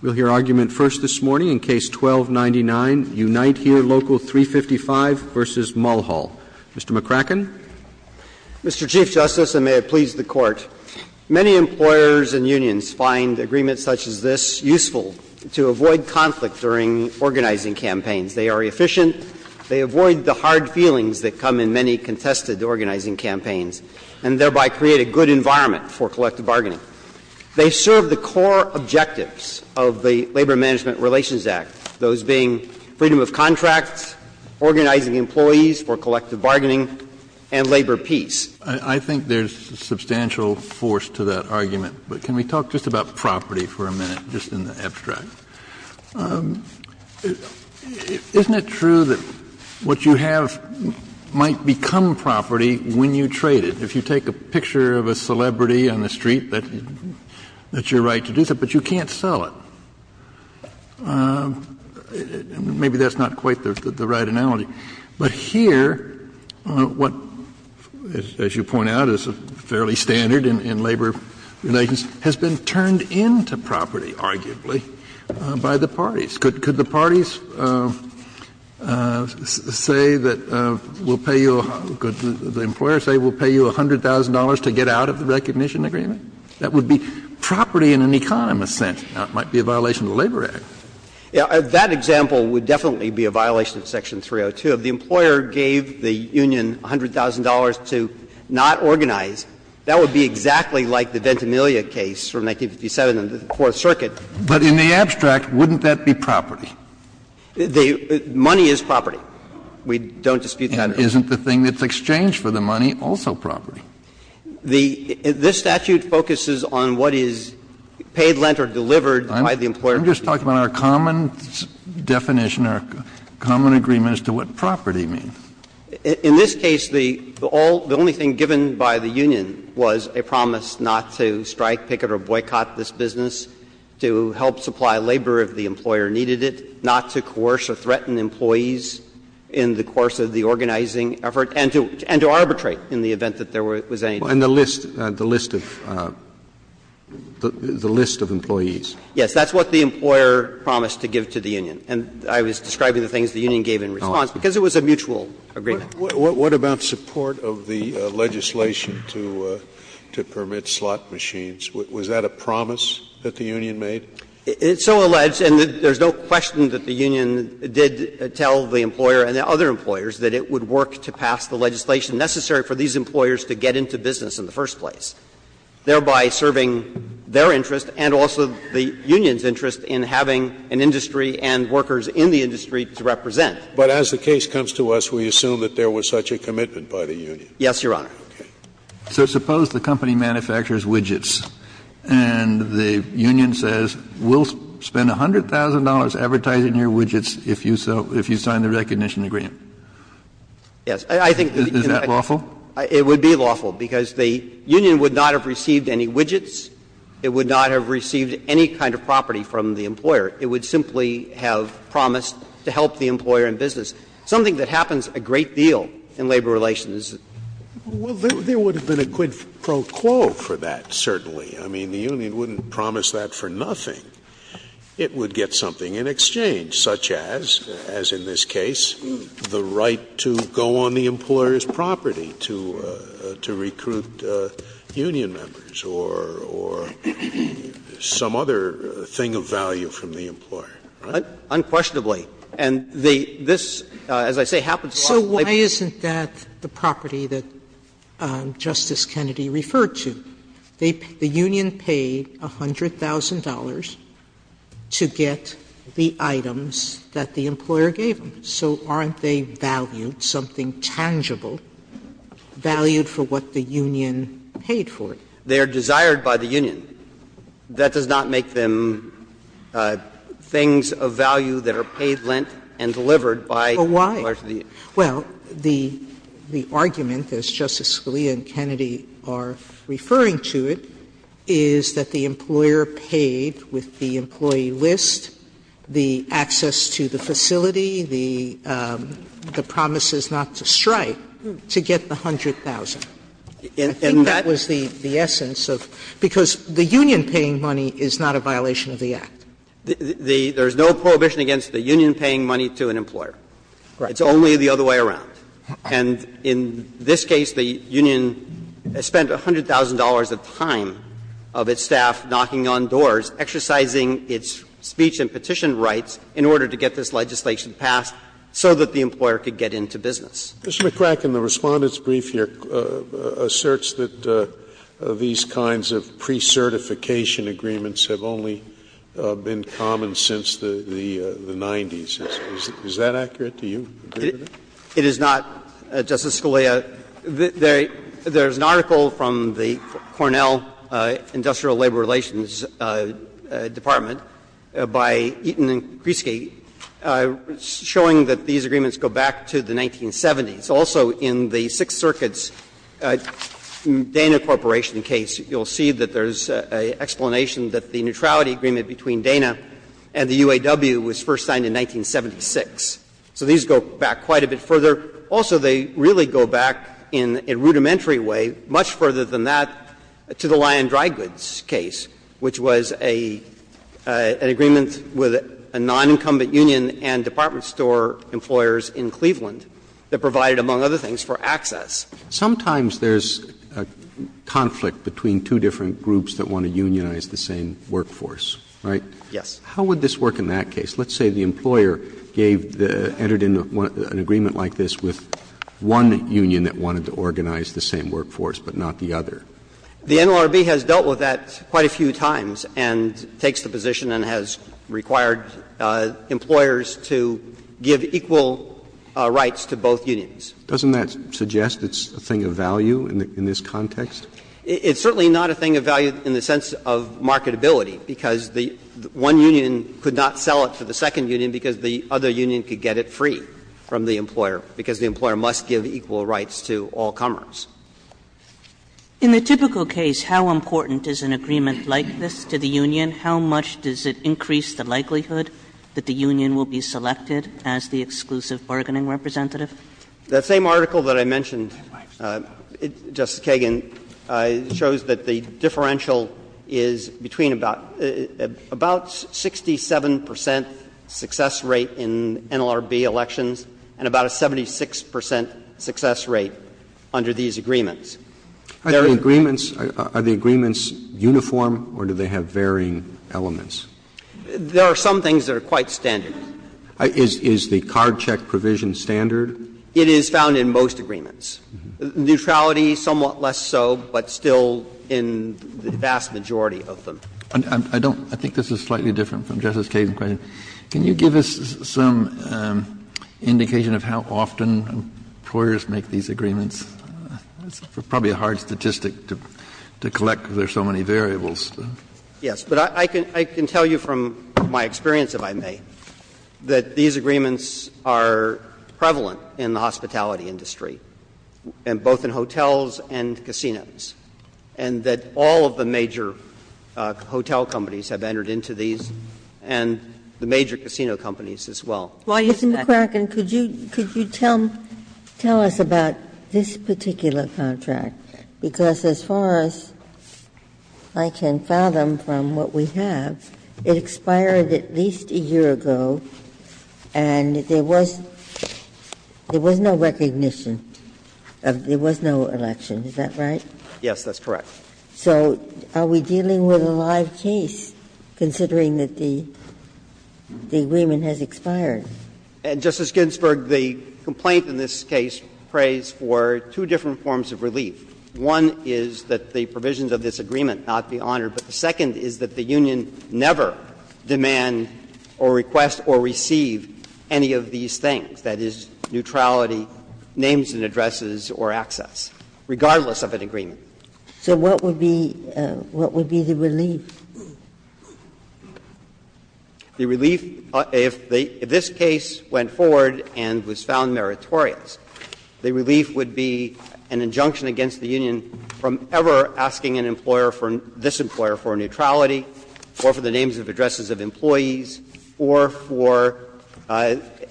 We'll hear argument first this morning in Case 12-99, Unite Here Local 355 v. Mulhall. Mr. McCracken. Mr. Chief Justice, and may it please the Court, many employers and unions find agreements such as this useful to avoid conflict during organizing campaigns. They are efficient, they avoid the hard feelings that come in many contested organizing campaigns, and thereby create a good environment for collective bargaining. They serve the core objectives of the Labor Management Relations Act, those being freedom of contract, organizing employees for collective bargaining, and labor peace. I think there's substantial force to that argument. But can we talk just about property for a minute, just in the abstract? Isn't it true that what you have might become property when you trade it? If you take a picture of a celebrity on the street, that's your right to do so, but you can't sell it. Maybe that's not quite the right analogy. But here what, as you point out, is fairly standard in labor relations has been turned into property, arguably, by the parties. Could the parties say that we'll pay you, could the employer say we'll pay you $100,000 to get out of the recognition agreement? That would be property in an economist's sense. Now, it might be a violation of the Labor Act. That example would definitely be a violation of section 302. If the employer gave the union $100,000 to not organize, that would be exactly like the Ventimiglia case from 1957 in the Fourth Circuit. But in the abstract, wouldn't that be property? Money is property. We don't dispute that. Isn't the thing that's exchanged for the money also property? This statute focuses on what is paid, lent, or delivered by the employer. I'm just talking about our common definition, our common agreement as to what property means. In this case, the only thing given by the union was a promise not to strike, picket or boycott this business, to help supply labor if the employer needed it, not to coerce or threaten employees in the course of the organizing effort, and to arbitrate in the event that there was any dispute. And the list, the list of employees. Yes. That's what the employer promised to give to the union. And I was describing the things the union gave in response, because it was a mutual agreement. What about support of the legislation to permit slot machines? Was that a promise that the union made? It's so alleged, and there's no question that the union did tell the employer and the other employers that it would work to pass the legislation necessary for these employers to get into business in the first place, thereby serving their interest and also the union's interest in having an industry and workers in the industry to represent. But as the case comes to us, we assume that there was such a commitment by the union. Yes, Your Honor. So suppose the company manufactures widgets and the union says, we'll spend $100,000 advertising your widgets if you sign the recognition agreement. Yes. I think that the union would not have received any widgets. It would not have received any kind of property from the employer. It would simply have promised to help the employer in business, something that happens a great deal in labor relations. Well, there would have been a quid pro quo for that, certainly. I mean, the union wouldn't promise that for nothing. It would get something in exchange, such as, as in this case, the right to go on the employer's property to recruit union members or some other thing of value from the employer. Right? Unquestionably. And this, as I say, happens a lot in labor relations. So why isn't that the property that Justice Kennedy referred to? The union paid $100,000 to get the items that the employer gave them. So aren't they valued, something tangible, valued for what the union paid for? They are desired by the union. That does not make them things of value that are paid, lent, and delivered by the union. Well, why? Well, the argument, as Justice Scalia and Kennedy are referring to it, is that the employer paid with the employee list, the access to the facility, the promises not to strike, to get the $100,000. And that was the essence of the union paying money is not a violation of the Act. There is no prohibition against the union paying money to an employer. Right. It's only the other way around. And in this case, the union spent $100,000 of time of its staff knocking on doors, exercising its speech and petition rights in order to get this legislation passed so that the employer could get into business. Mr. McCracken, the Respondent's brief here asserts that these kinds of precertification agreements have only been common since the 90s. Is that accurate to you? It is not, Justice Scalia. There is an article from the Cornell Industrial Labor Relations Department by Eaton and Kresge showing that these agreements go back to the 1970s. Also, in the Sixth Circuit's Dana Corporation case, you will see that there is an explanation that the neutrality agreement between Dana and the UAW was first signed in 1976. So these go back quite a bit further. Also, they really go back in a rudimentary way, much further than that, to the Lyon Dry Goods case, which was an agreement with a non-incumbent union and department store employers in Cleveland that provided, among other things, for access. Sometimes there is a conflict between two different groups that want to unionize the same workforce, right? Yes. How would this work in that case? Let's say the employer gave the — entered in an agreement like this with one union that wanted to organize the same workforce, but not the other. The NLRB has dealt with that quite a few times and takes the position and has required employers to give equal rights to both unions. Doesn't that suggest it's a thing of value in this context? It's certainly not a thing of value in the sense of marketability, because one union could not sell it to the second union because the other union could get it free from the employer, because the employer must give equal rights to all comers. In the typical case, how important is an agreement like this to the union? How much does it increase the likelihood that the union will be selected as the exclusive bargaining representative? The same article that I mentioned, Justice Kagan, shows that the differential is between about 67 percent success rate in NLRB elections and about a 76 percent success rate under these agreements. Are the agreements uniform or do they have varying elements? There are some things that are quite standard. Is the card check provision standard? It is found in most agreements. Neutrality, somewhat less so, but still in the vast majority of them. Kennedy, I don't think this is slightly different from Justice Kagan's question. Can you give us some indication of how often employers make these agreements? It's probably a hard statistic to collect because there are so many variables. Yes. But I can tell you from my experience, if I may, that these agreements are prevalent in the hospitality industry. And both in hotels and casinos. And that all of the major hotel companies have entered into these and the major casino companies as well. Ms. McCracken, could you tell us about this particular contract? Because as far as I can fathom from what we have, it expired at least a year ago and there was no recognition. There was no election, is that right? Yes, that's correct. So are we dealing with a live case, considering that the agreement has expired? Justice Ginsburg, the complaint in this case prays for two different forms of relief. One is that the provisions of this agreement not be honored. But the second is that the union never demand or request or receive any of these things, that is, neutrality, names and addresses, or access, regardless of an agreement. So what would be the relief? The relief, if this case went forward and was found meritorious, the relief would be an injunction against the union from ever asking an employer, this employer, for neutrality, or for the names and addresses of employees, or for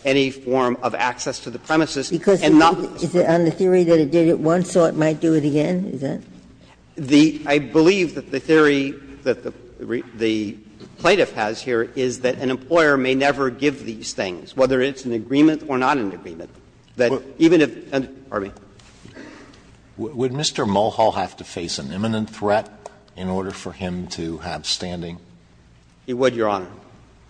any form of access to the premises. And not the theory that it did it once, so it might do it again, is that it? I believe that the theory that the plaintiff has here is that an employer may never give these things, whether it's an agreement or not an agreement, that even if the plaintiff asks for the names and addresses of employees, it would be an injunction against the union from ever asking for the names and addresses of employees. Would Mr. Mulhall have to face an imminent threat in order for him to have standing? He would, Your Honor.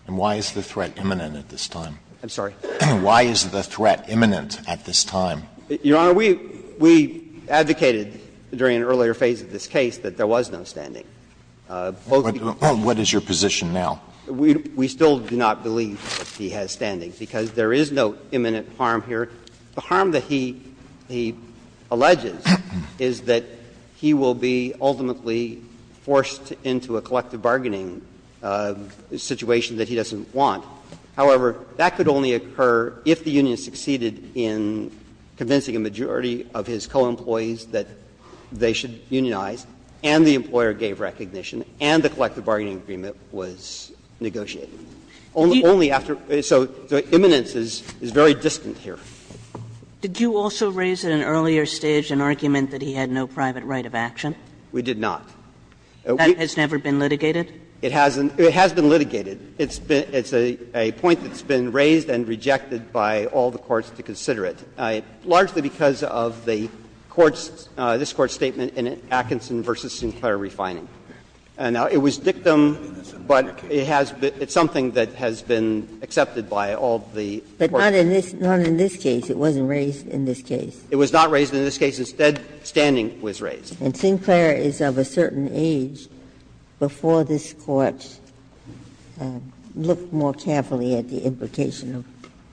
And why is the threat imminent at this time? I'm sorry? Why is the threat imminent at this time? Your Honor, we advocated during an earlier phase of this case that there was no standing. What is your position now? We still do not believe that he has standing, because there is no imminent harm here. The harm that he alleges is that he will be ultimately forced into a collective bargaining situation that he doesn't want. However, that could only occur if the union succeeded in convincing a majority of his co-employees that they should unionize and the employer gave recognition and the collective bargaining agreement was negotiated. Only after so the imminence is very distant here. Did you also raise at an earlier stage an argument that he had no private right of action? We did not. That has never been litigated? It hasn't. It has been litigated. It's a point that's been raised and rejected by all the courts to consider it, largely because of the court's, this Court's statement in Atkinson v. Sinclair refining. Now, it was dictum, but it has been, it's something that has been accepted by all the courts. But not in this case. It wasn't raised in this case. It was not raised in this case. Instead, standing was raised. And Sinclair is of a certain age before this Court looked more carefully at the implication of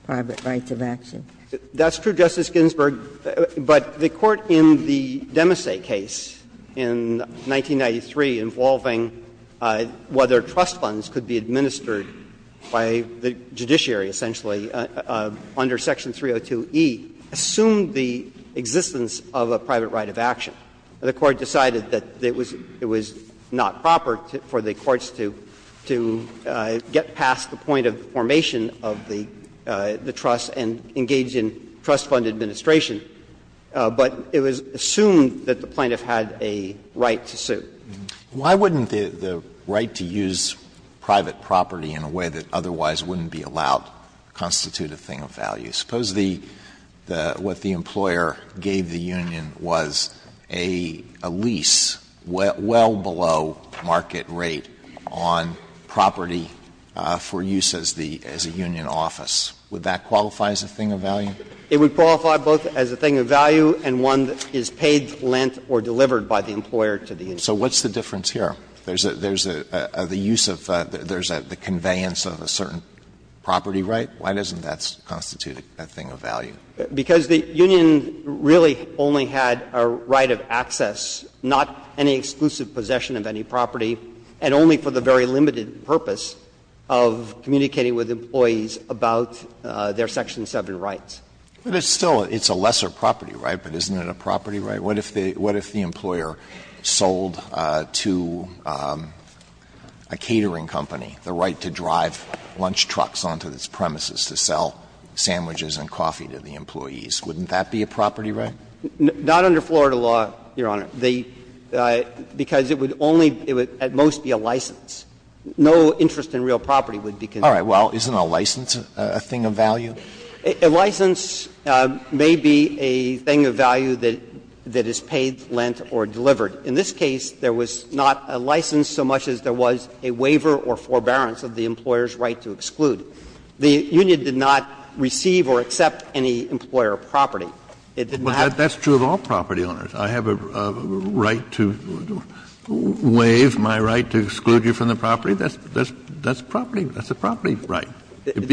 private rights of action. That's true, Justice Ginsburg. But the court in the Demise case in 1993, involving whether trust funds could be administered by the judiciary, essentially, under Section 302e, assumed the existence of a private right of action. The court decided that it was not proper for the courts to get past the point of formation of the trust and engage in trust fund administration. But it was assumed that the plaintiff had a right to sue. Alito, why wouldn't the right to use private property in a way that otherwise wouldn't be allowed constitute a thing of value? Suppose the employer gave the union was a lease well below market rate on property for use as the union office. Would that qualify as a thing of value? It would qualify both as a thing of value and one that is paid, lent, or delivered by the employer to the union. So what's the difference here? There's the use of, there's the conveyance of a certain property right? Why doesn't that constitute a thing of value? Because the union really only had a right of access, not any exclusive possession of any property, and only for the very limited purpose of communicating with employees about their Section 7 rights. But it's still, it's a lesser property right, but isn't it a property right? What if the employer sold to a catering company the right to drive lunch trucks onto its premises to sell sandwiches and coffee to the employees? Wouldn't that be a property right? Not under Florida law, Your Honor, because it would only, it would at most be a license. No interest in real property would be considered. All right. Well, isn't a license a thing of value? A license may be a thing of value that is paid, lent, or delivered. In this case, there was not a license so much as there was a waiver or forbearance of the employer's right to exclude. The union did not receive or accept any employer property. It did not. Kennedy, that's true of all property owners. I have a right to waive my right to exclude you from the property. That's property, that's a property right. And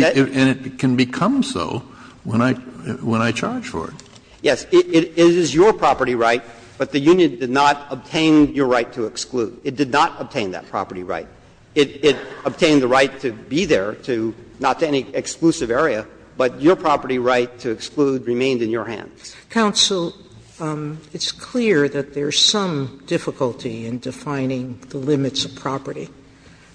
it can become so when I charge for it. Yes. It is your property right, but the union did not obtain your right to exclude. It did not obtain that property right. It obtained the right to be there, to not to any exclusive area, but your property right to exclude remained in your hands. Counsel, it's clear that there's some difficulty in defining the limits of property.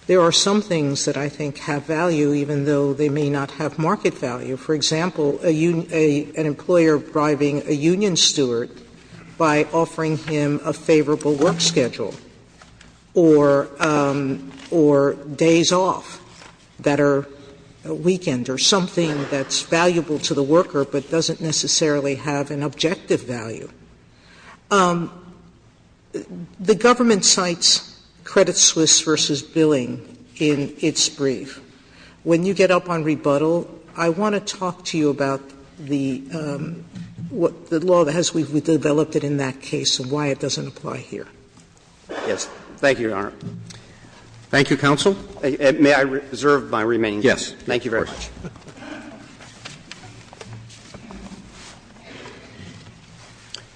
There are some things that I think have value, even though they may not have market value, for example, an employer bribing a union steward by offering him a favorable work schedule or days off that are a weekend or something that's valuable to the worker but doesn't necessarily have an objective value. The government cites Credit Suisse v. Billing in its brief. When you get up on rebuttal, I want to talk to you about the law that has been developed that in that case and why it doesn't apply here. Yes. Thank you, Your Honor. Thank you, counsel. May I reserve my remaining time? Yes. Thank you very much.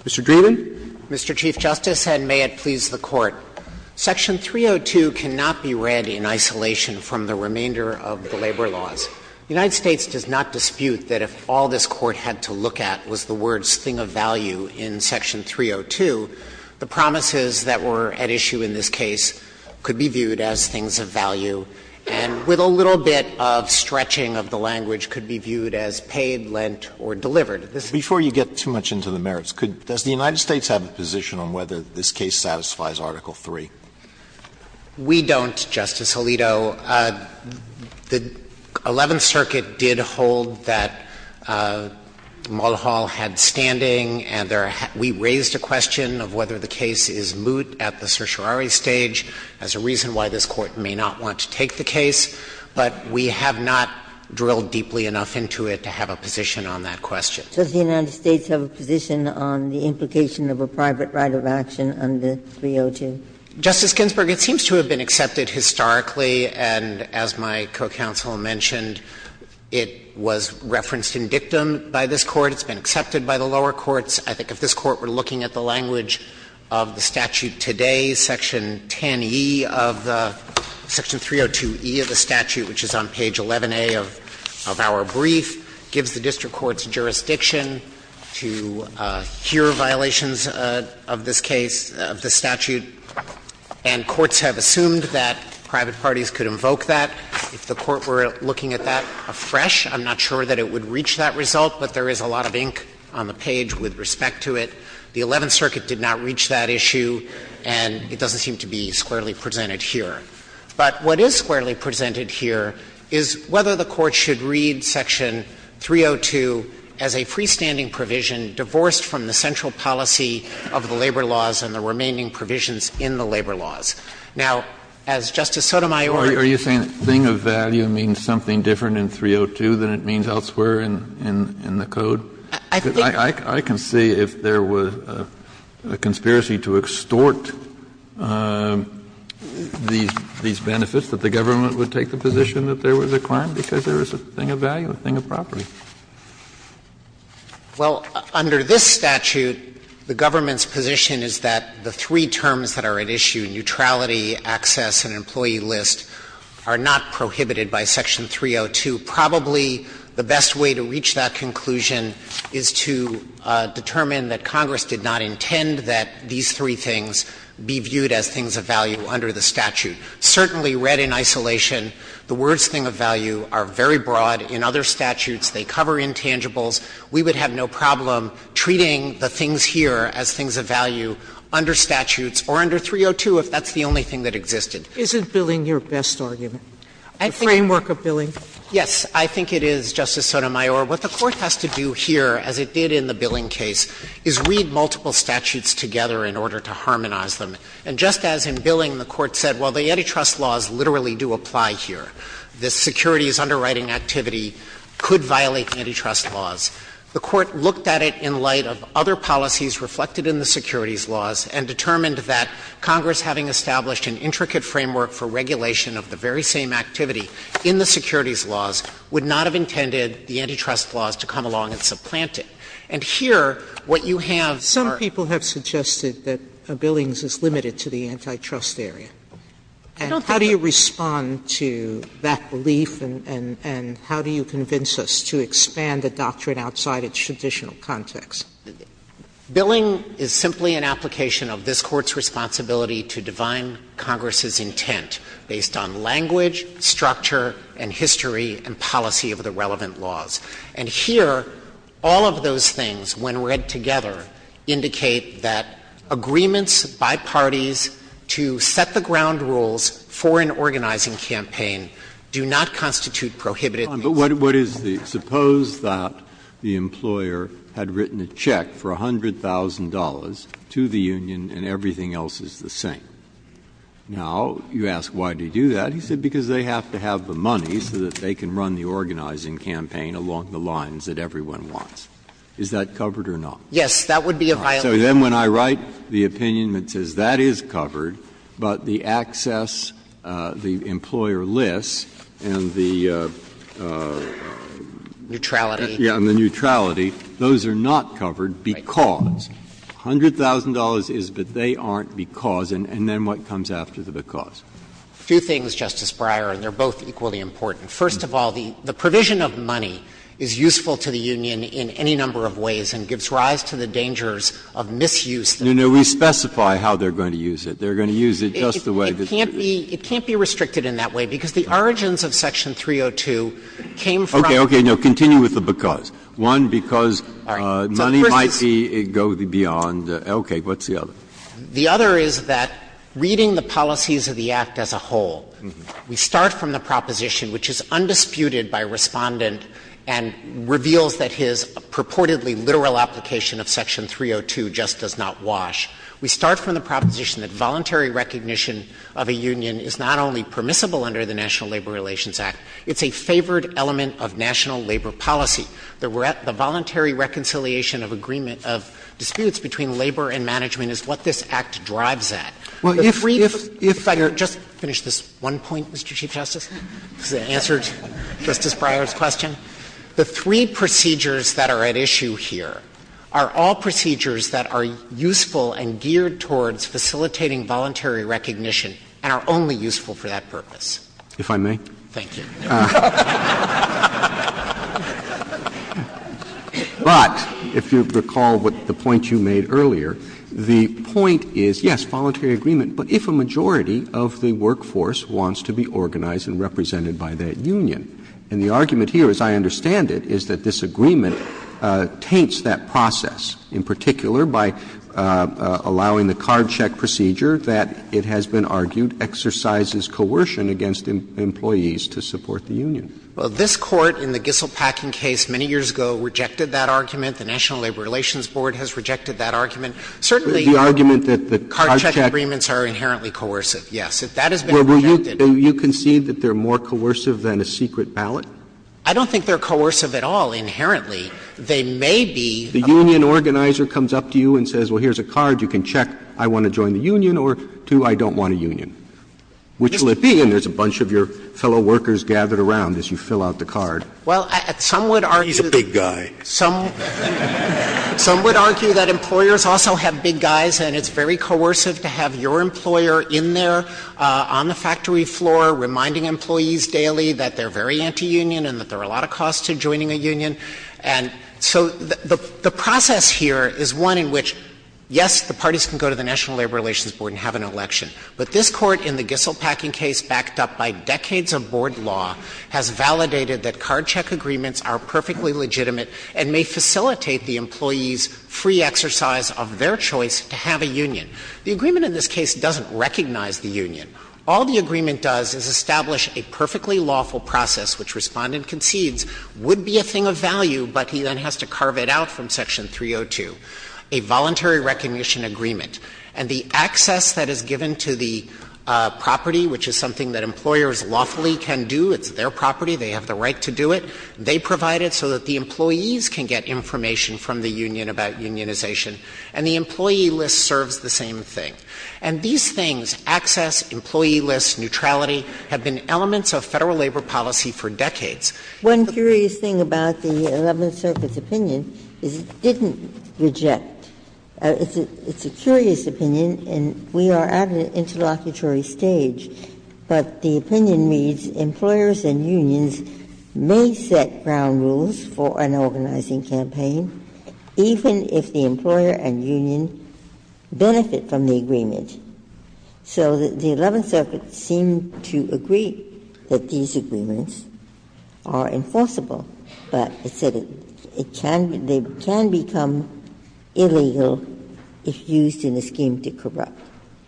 Mr. Dreeben. Mr. Chief Justice, and may it please the Court. Section 302 cannot be read in isolation from the remainder of the labor laws. The United States does not dispute that if all this Court had to look at was the words thing of value in section 302, the promises that were at issue in this case could be viewed as things of value, and with a little bit of stretching of the language, could be viewed as paid, lent, or delivered. Before you get too much into the merits, does the United States have a position on whether this case satisfies Article III? We don't, Justice Alito. The Eleventh Circuit did hold that Mulhall had standing, and we raised a question of whether the case is moot at the certiorari stage as a reason why this Court may not want to take the case, but we have not drilled deeply enough into it to have a position on that question. Does the United States have a position on the implication of a private right of action under 302? Dreeben, it seems to have been accepted historically, and as my co-counsel mentioned, it was referenced in dictum by this Court. It's been accepted by the lower courts. I think if this Court were looking at the language of the statute today, section 10e of the 302e of the statute, which is on page 11a of our brief, gives the district court's jurisdiction to hear violations of this case, of the statute, and it would And courts have assumed that private parties could invoke that. If the Court were looking at that afresh, I'm not sure that it would reach that result, but there is a lot of ink on the page with respect to it. The Eleventh Circuit did not reach that issue, and it doesn't seem to be squarely presented here. But what is squarely presented here is whether the Court should read section 302 as a freestanding provision divorced from the central policy of the labor laws and the labor laws. Now, as Justice Sotomayor Kennedy, are you saying that thing of value means something different in 302 than it means elsewhere in the code? I can see if there was a conspiracy to extort these benefits, that the government would take the position that there was a crime because there was a thing of value, a thing of property. Well, under this statute, the government's position is that the three terms that are at issue, neutrality, access, and employee list, are not prohibited by section 302. Probably the best way to reach that conclusion is to determine that Congress did not intend that these three things be viewed as things of value under the statute. Certainly read in isolation, the words thing of value are very broad. In other statutes, they cover intangibles. We would have no problem treating the things here as things of value under statutes or under 302 if that's the only thing that existed. Isn't billing your best argument, the framework of billing? Yes, I think it is, Justice Sotomayor. What the Court has to do here, as it did in the billing case, is read multiple statutes together in order to harmonize them. And just as in billing, the Court said, well, the antitrust laws literally do apply here. The securities underwriting activity could violate antitrust laws. The Court looked at it in light of other policies reflected in the securities laws and determined that Congress, having established an intricate framework for regulation of the very same activity in the securities laws, would not have intended the antitrust laws to come along and supplant it. And here, what you have are — Some people have suggested that billings is limited to the antitrust area. And how do you respond to that belief, and how do you convince us to expand the doctrine outside its traditional context? Billing is simply an application of this Court's responsibility to divine Congress's intent based on language, structure, and history and policy of the relevant laws. And here, all of those things, when read together, indicate that agreements by parties to set the ground rules for an organizing campaign do not constitute prohibited. Breyer, but what is the — suppose that the employer had written a check for $100,000 to the union and everything else is the same. Now, you ask why did he do that. He said because they have to have the money so that they can run the organizing campaign along the lines that everyone wants. Is that covered or not? Yes. That would be a violation. So then when I write the opinion that says that is covered, but the access, the employer lists, and the neutrality, those are not covered because. $100,000 is, but they aren't because, and then what comes after the because? Two things, Justice Breyer, and they are both equally important. First of all, the provision of money is useful to the union in any number of ways and gives rise to the dangers of misuse. No, no. We specify how they are going to use it. They are going to use it just the way that it should be. It can't be restricted in that way because the origins of Section 302 came from. Okay. Okay. Continue with the because. One, because money might go beyond. Okay. What's the other? The other is that reading the policies of the Act as a whole, we start from the proposition which is undisputed by Respondent and reveals that his purportedly literal application of Section 302 just does not wash. We start from the proposition that voluntary recognition of a union is not only permissible under the National Labor Relations Act, it's a favored element of national labor policy. The voluntary reconciliation of agreement of disputes between labor and management is what this Act drives at. Well, if, if, if I could just finish this one point, Mr. Chief Justice, as an answer to Justice Breyer's question. The three procedures that are at issue here are all procedures that are useful and geared towards facilitating voluntary recognition and are only useful for that purpose. If I may? Thank you. But if you recall what the point you made earlier, the point is, yes, voluntary agreement, but if a majority of the workforce wants to be organized and represented by that union. And the argument here, as I understand it, is that this agreement taints that process, in particular by allowing the card check procedure that, it has been argued, exercises coercion against employees to support the union. Well, this Court in the Gisselt-Packin case many years ago rejected that argument. The National Labor Relations Board has rejected that argument. Certainly, the card check agreements are inherently coercive, yes. If that has been rejected. Well, will you concede that they're more coercive than a secret ballot? I don't think they're coercive at all, inherently. They may be. The union organizer comes up to you and says, well, here's a card. You can check, I want to join the union, or, two, I don't want a union. Which will it be? And there's a bunch of your fellow workers gathered around as you fill out the card. Well, some would argue. He's a big guy. Some would argue that employers also have big guys, and it's very coercive to have your employer in there on the factory floor reminding employees daily that they're very anti-union and that there are a lot of costs to joining a union. And so the process here is one in which, yes, the parties can go to the National Labor Relations Board and have an election. But this Court in the Gisselt-Packin case, backed up by decades of board law, has validated that card check agreements are perfectly legitimate and may facilitate the employees' free exercise of their choice to have a union. The agreement in this case doesn't recognize the union. All the agreement does is establish a perfectly lawful process, which Respondent concedes would be a thing of value, but he then has to carve it out from Section 302, a voluntary recognition agreement. And the access that is given to the property, which is something that employers lawfully can do, it's their property, they have the right to do it, they provide it so that the employees can get information from the union about unionization, and the employee list serves the same thing. And these things, access, employee list, neutrality, have been elements of Federal labor policy for decades. Ginsburg. One curious thing about the Eleventh Circuit's opinion is it didn't reject. It's a curious opinion, and we are at an interlocutory stage, but the opinion reads employers and unions may set ground rules for an organizing campaign, even if the employer and union benefit from the agreement. So the Eleventh Circuit seemed to agree that these agreements are enforceable, but it said it can become illegal if used in a scheme to corrupt.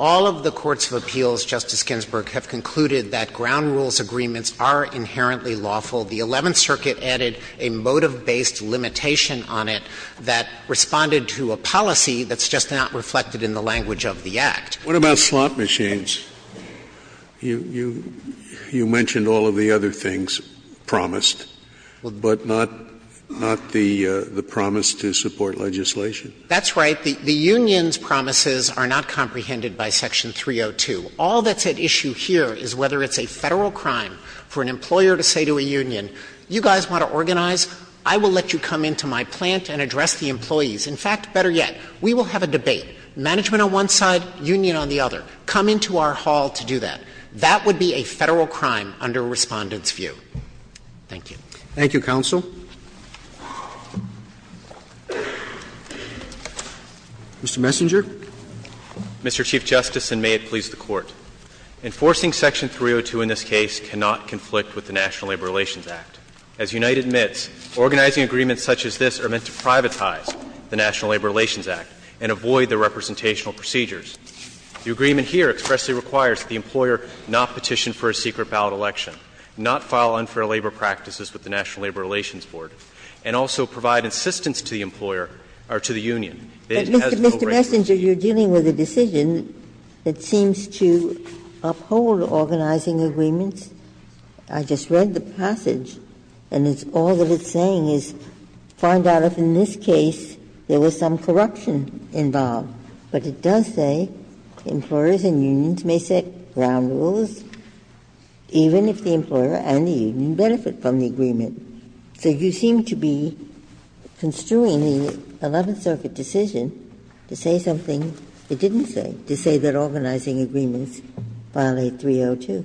All of the courts of appeals, Justice Ginsburg, have concluded that ground rules agreements are inherently lawful. The Eleventh Circuit added a motive-based limitation on it that responded to a policy that's just not reflected in the language of the Act. Scalia. What about slot machines? You mentioned all of the other things promised, but not the promise to support legislation? That's right. The union's promises are not comprehended by Section 302. All that's at issue here is whether it's a Federal crime for an employer to say to a union, you guys want to organize? I will let you come into my plant and address the employees. In fact, better yet, we will have a debate. Management on one side, union on the other. Come into our hall to do that. That would be a Federal crime under Respondent's view. Thank you. Thank you, counsel. Mr. Messenger. Mr. Chief Justice, and may it please the Court. Enforcing Section 302 in this case cannot conflict with the National Labor Relations Act. As Unite admits, organizing agreements such as this are meant to privatize the National Labor Relations Act and avoid the representational procedures. The agreement here expressly requires that the employer not petition for a secret ballot election, not file unfair labor practices with the National Labor Relations Board, and also provide assistance to the employer or to the union that it has to go Mr. Messenger, you're dealing with a decision that seems to uphold organizing agreements. I just read the passage, and it's all that it's saying is find out if in this case there was some corruption involved. But it does say employers and unions may set ground rules, even if the employer and the union benefit from the agreement. So you seem to be construing the Eleventh Circuit decision to say something it didn't say, to say that organizing agreements violate 302.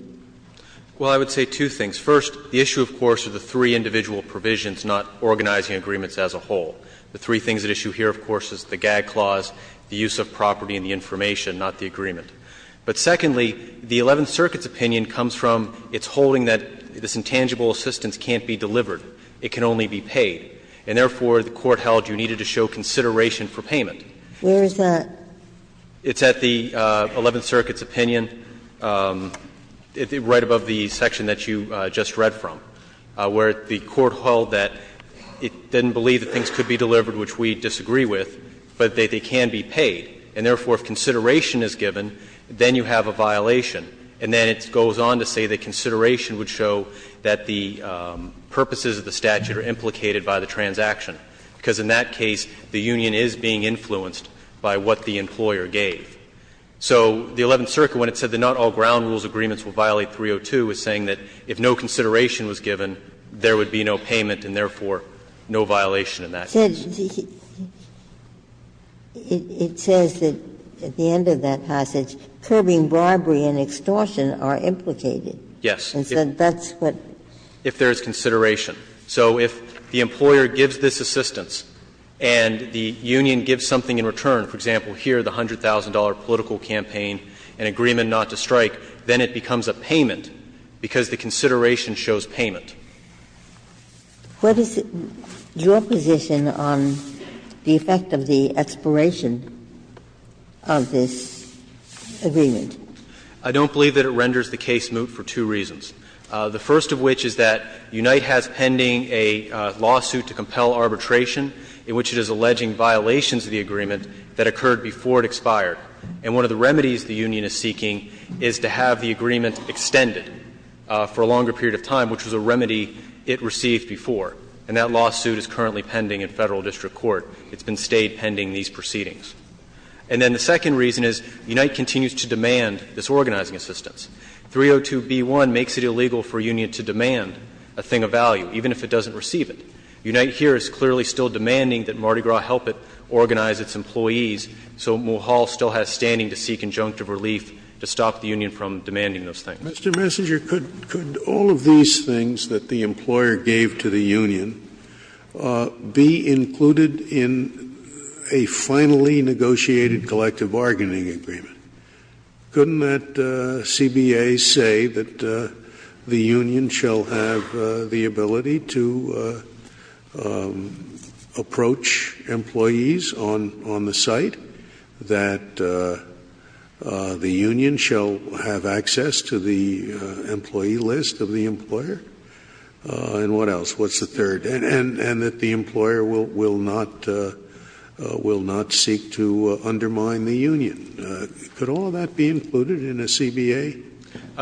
Well, I would say two things. First, the issue, of course, are the three individual provisions, not organizing agreements as a whole. The three things at issue here, of course, is the gag clause, the use of property and the information, not the agreement. But secondly, the Eleventh Circuit's opinion comes from its holding that this intangible assistance can't be delivered, it can only be paid. And therefore, the Court held you needed to show consideration for payment. Where is that? It's at the Eleventh Circuit's opinion, right above the section that you just read from, where the Court held that it didn't believe that things could be delivered, which we disagree with, but that they can be paid. And therefore, if consideration is given, then you have a violation. And then it goes on to say that consideration would show that the purposes of the statute are implicated by the transaction, because in that case the union is being influenced by what the employer gave. So the Eleventh Circuit, when it said that not all ground rules agreements will violate 302, is saying that if no consideration was given, there would be no payment and therefore no violation in that case. Ginsburg. It says that, at the end of that passage, curbing bribery and extortion are implicated. Yes. And so that's what? If there is consideration. So if the employer gives this assistance and the union gives something in return, for example, here, the $100,000 political campaign, an agreement not to strike, then it becomes a payment because the consideration shows payment. What is your position on the effect of the expiration of this agreement? I don't believe that it renders the case moot for two reasons. The first of which is that Unite has pending a lawsuit to compel arbitration in which it is alleging violations of the agreement that occurred before it expired. And one of the remedies the union is seeking is to have the agreement extended for a longer period of time, which was a remedy it received before. And that lawsuit is currently pending in Federal district court. It's been stayed pending these proceedings. And then the second reason is Unite continues to demand this organizing assistance. 302b1 makes it illegal for a union to demand a thing of value, even if it doesn't receive it. Unite here is clearly still demanding that Mardi Gras help it organize its employees, so Mulhall still has standing to seek injunctive relief to stop the union from demanding those things. Mr. Messenger, could all of these things that the employer gave to the union be included in a finally negotiated collective bargaining agreement? Couldn't that CBA say that the union shall have the ability to approach employees on the site, that the union shall have access to the employee list of the employer? And what else? What's the third? And that the employer will not seek to undermine the union. Could all of that be included in a CBA?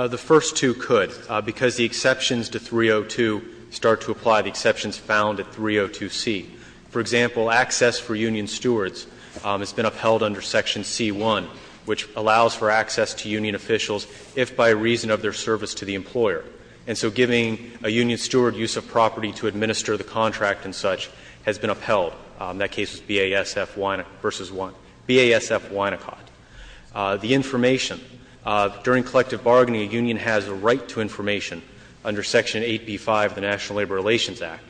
The first two could, because the exceptions to 302 start to apply, the exceptions found at 302c. For example, access for union stewards has been upheld under Section C-1, which allows for access to union officials if by reason of their service to the employer. And so giving a union steward use of property to administer the contract and such has been upheld. That case is BASF-Winacott v. 1, BASF-Winacott. The information, during collective bargaining, a union has a right to information under Section 8b-5 of the National Labor Relations Act.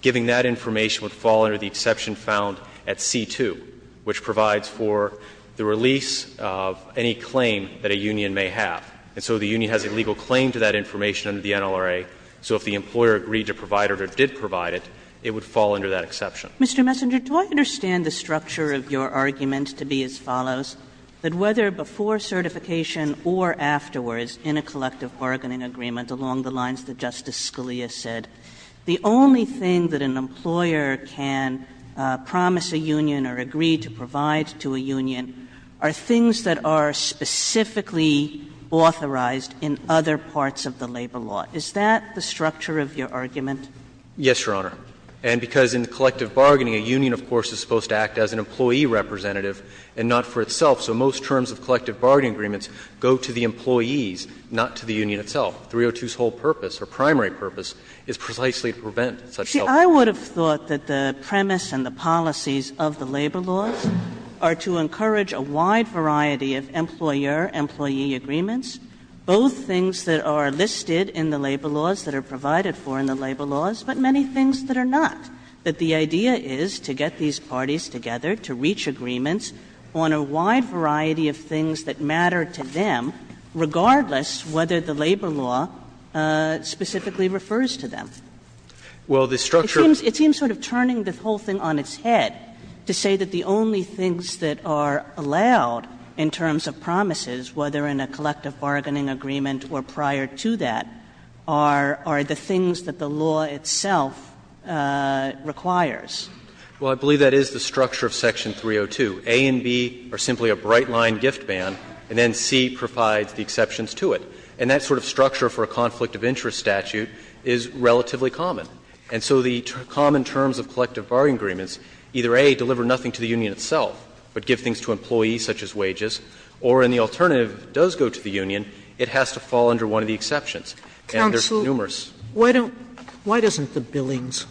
Giving that information would fall under the exception found at C-2, which provides for the release of any claim that a union may have. And so the union has a legal claim to that information under the NLRA. So if the employer agreed to provide it or did provide it, it would fall under that exception. Kagan. Mr. Messenger, do I understand the structure of your argument to be as follows, that whether before certification or afterwards in a collective bargaining agreement, along the lines that Justice Scalia said, the only thing that an employer can promise a union or agree to provide to a union are things that are specifically authorized in other parts of the labor law. Is that the structure of your argument? Messenger. Yes, Your Honor. And because in collective bargaining, a union, of course, is supposed to act as an employee representative and not for itself. So most terms of collective bargaining agreements go to the employees, not to the employees. And so I think that's the structure of your argument, Justice Scalia, that the 302's whole purpose, or primary purpose, is precisely to prevent such help. Kagan. Kagan. See, I would have thought that the premise and the policies of the labor laws are to encourage a wide variety of employer-employee agreements, both things that are listed in the labor laws, that are provided for in the labor laws, but many things that are not, that the idea is to get these parties together to reach agreements on a wide variety of things that matter to them, regardless whether the labor law specifically refers to them. Messenger. Well, the structure of the law is to encourage a wide variety of employer-employee A and B are simply a bright-line gift ban, and then C provides the exceptions to it. And that sort of structure for a conflict of interest statute is relatively common. And so the common terms of collective bargaining agreements, either A, deliver nothing to the union itself, but give things to employees, such as wages, or in the alternative, if it does go to the union, it has to fall under one of the exceptions, and there's numerous. Sotomayor, why doesn't the billings,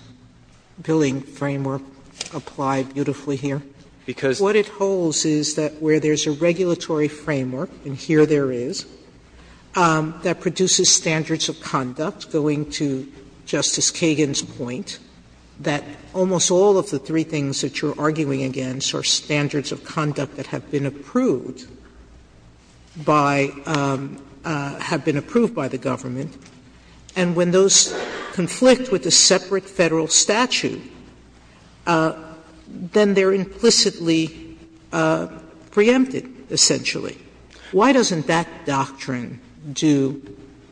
billing framework apply beautifully here? Messenger. Because what it holds is that where there's a regulatory framework, and here there is, that produces standards of conduct, going to Justice Kagan's point, that almost all of the three things that you're arguing against are standards of conduct that have been approved by the government, and when those conflict with a separate federal statute, then they're implicitly preempted, essentially. Why doesn't that doctrine do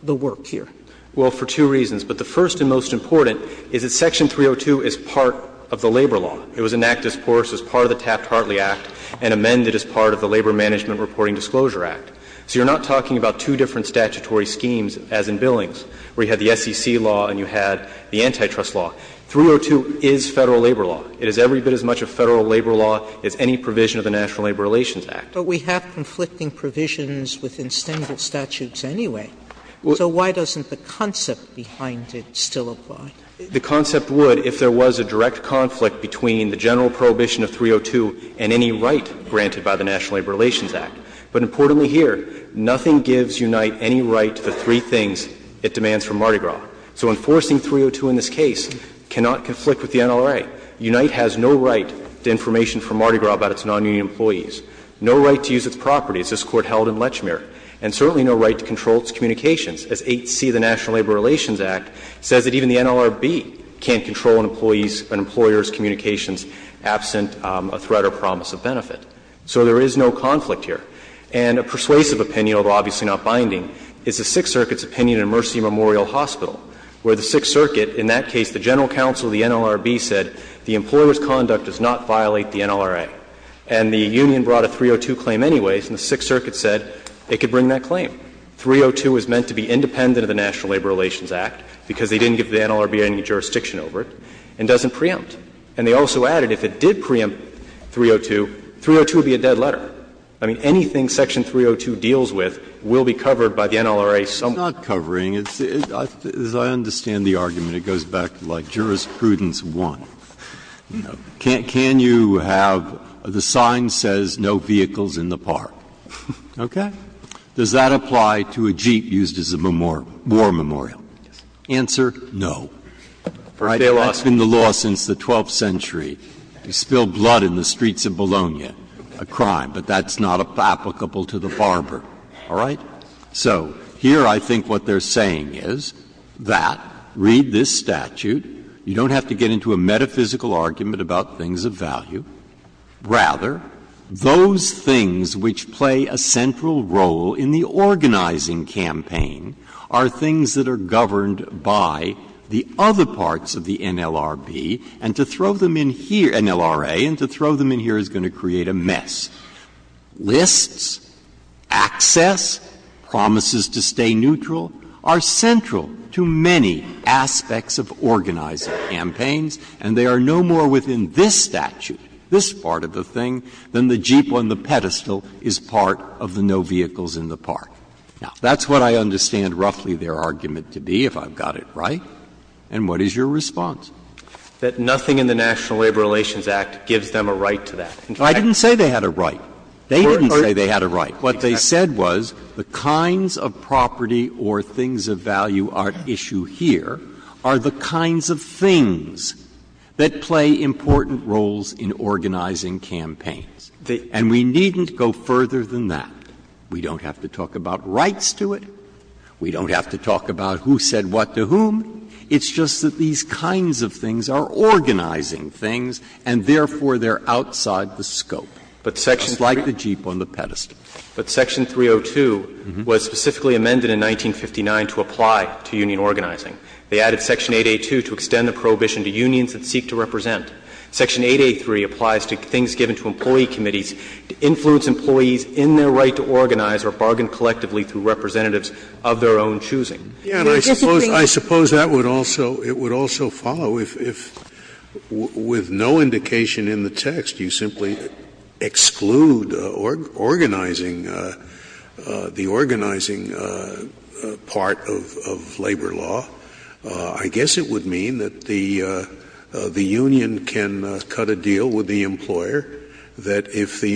the work here? Messenger. Well, for two reasons. But the first and most important is that Section 302 is part of the labor law. It was enacted as part of the Taft-Hartley Act and amended as part of the Labor Management Reporting Disclosure Act. So you're not talking about two different statutory schemes as in billings, where you had the SEC law and you had the antitrust law. 302 is Federal labor law. It is every bit as much a Federal labor law as any provision of the National Labor Relations Act. Sotomayor, but we have conflicting provisions within single statutes anyway. So why doesn't the concept behind it still apply? The concept would if there was a direct conflict between the general prohibition of 302 and any right granted by the National Labor Relations Act. But importantly here, nothing gives Unite any right to the three things it demands from Mardi Gras. So enforcing 302 in this case cannot conflict with the NLRA. Unite has no right to information from Mardi Gras about its non-union employees, no right to use its properties, as this Court held in Lechmere, and certainly no right to control its communications, as 8c of the National Labor Relations Act says that even the NLRB can't control an employee's, an employer's communications absent a threat or promise of benefit. So there is no conflict here. And a persuasive opinion, although obviously not binding, is the Sixth Circuit's opinion in Mercy Memorial Hospital, where the Sixth Circuit, in that case, the general counsel of the NLRB said the employer's conduct does not violate the NLRA. And the union brought a 302 claim anyways, and the Sixth Circuit said it could bring that claim. 302 is meant to be independent of the National Labor Relations Act because they didn't give the NLRB any jurisdiction over it, and doesn't preempt. And they also added if it did preempt 302, 302 would be a dead letter. I mean, anything section 302 deals with will be covered by the NLRA somewhere. Breyer. Breyer. It's not covering. As I understand the argument, it goes back to like jurisprudence one. Can you have the sign says no vehicles in the park? Okay. Does that apply to a jeep used as a war memorial? Answer, no. You spill blood in the streets of Bologna. A crime. But that's not applicable to the barber. All right? So here I think what they're saying is that, read this statute, you don't have to get into a metaphysical argument about things of value. Rather, those things which play a central role in the organizing campaign are things that are governed by the other parts of the NLRB, and to throw them in here, NLRA, and to throw them in here is going to create a mess. Lists, access, promises to stay neutral are central to many aspects of organizing campaigns, and they are no more within this statute, this part of the thing, than the jeep on the pedestal is part of the no vehicles in the park. Now, that's what I understand roughly their argument to be, if I've got it right. And what is your response? That nothing in the National Labor Relations Act gives them a right to that. I didn't say they had a right. They didn't say they had a right. What they said was the kinds of property or things of value at issue here are the kinds of things that play important roles in organizing campaigns. And we needn't go further than that. We don't have to talk about rights to it. We don't have to talk about who said what to whom. It's just that these kinds of things are organizing things, and therefore, they're outside the scope. It's like the jeep on the pedestal. But Section 302 was specifically amended in 1959 to apply to union organizing. They added Section 8A.2 to extend the prohibition to unions that seek to represent. Section 8A.3 applies to things given to employee committees to influence employees in their right to organize or bargain collectively through representatives of their own choosing. Scalia. And I suppose that would also follow if, with no indication in the text, you simply exclude organizing, the organizing part of labor law. I guess it would mean that the union can cut a deal with the employer, that if the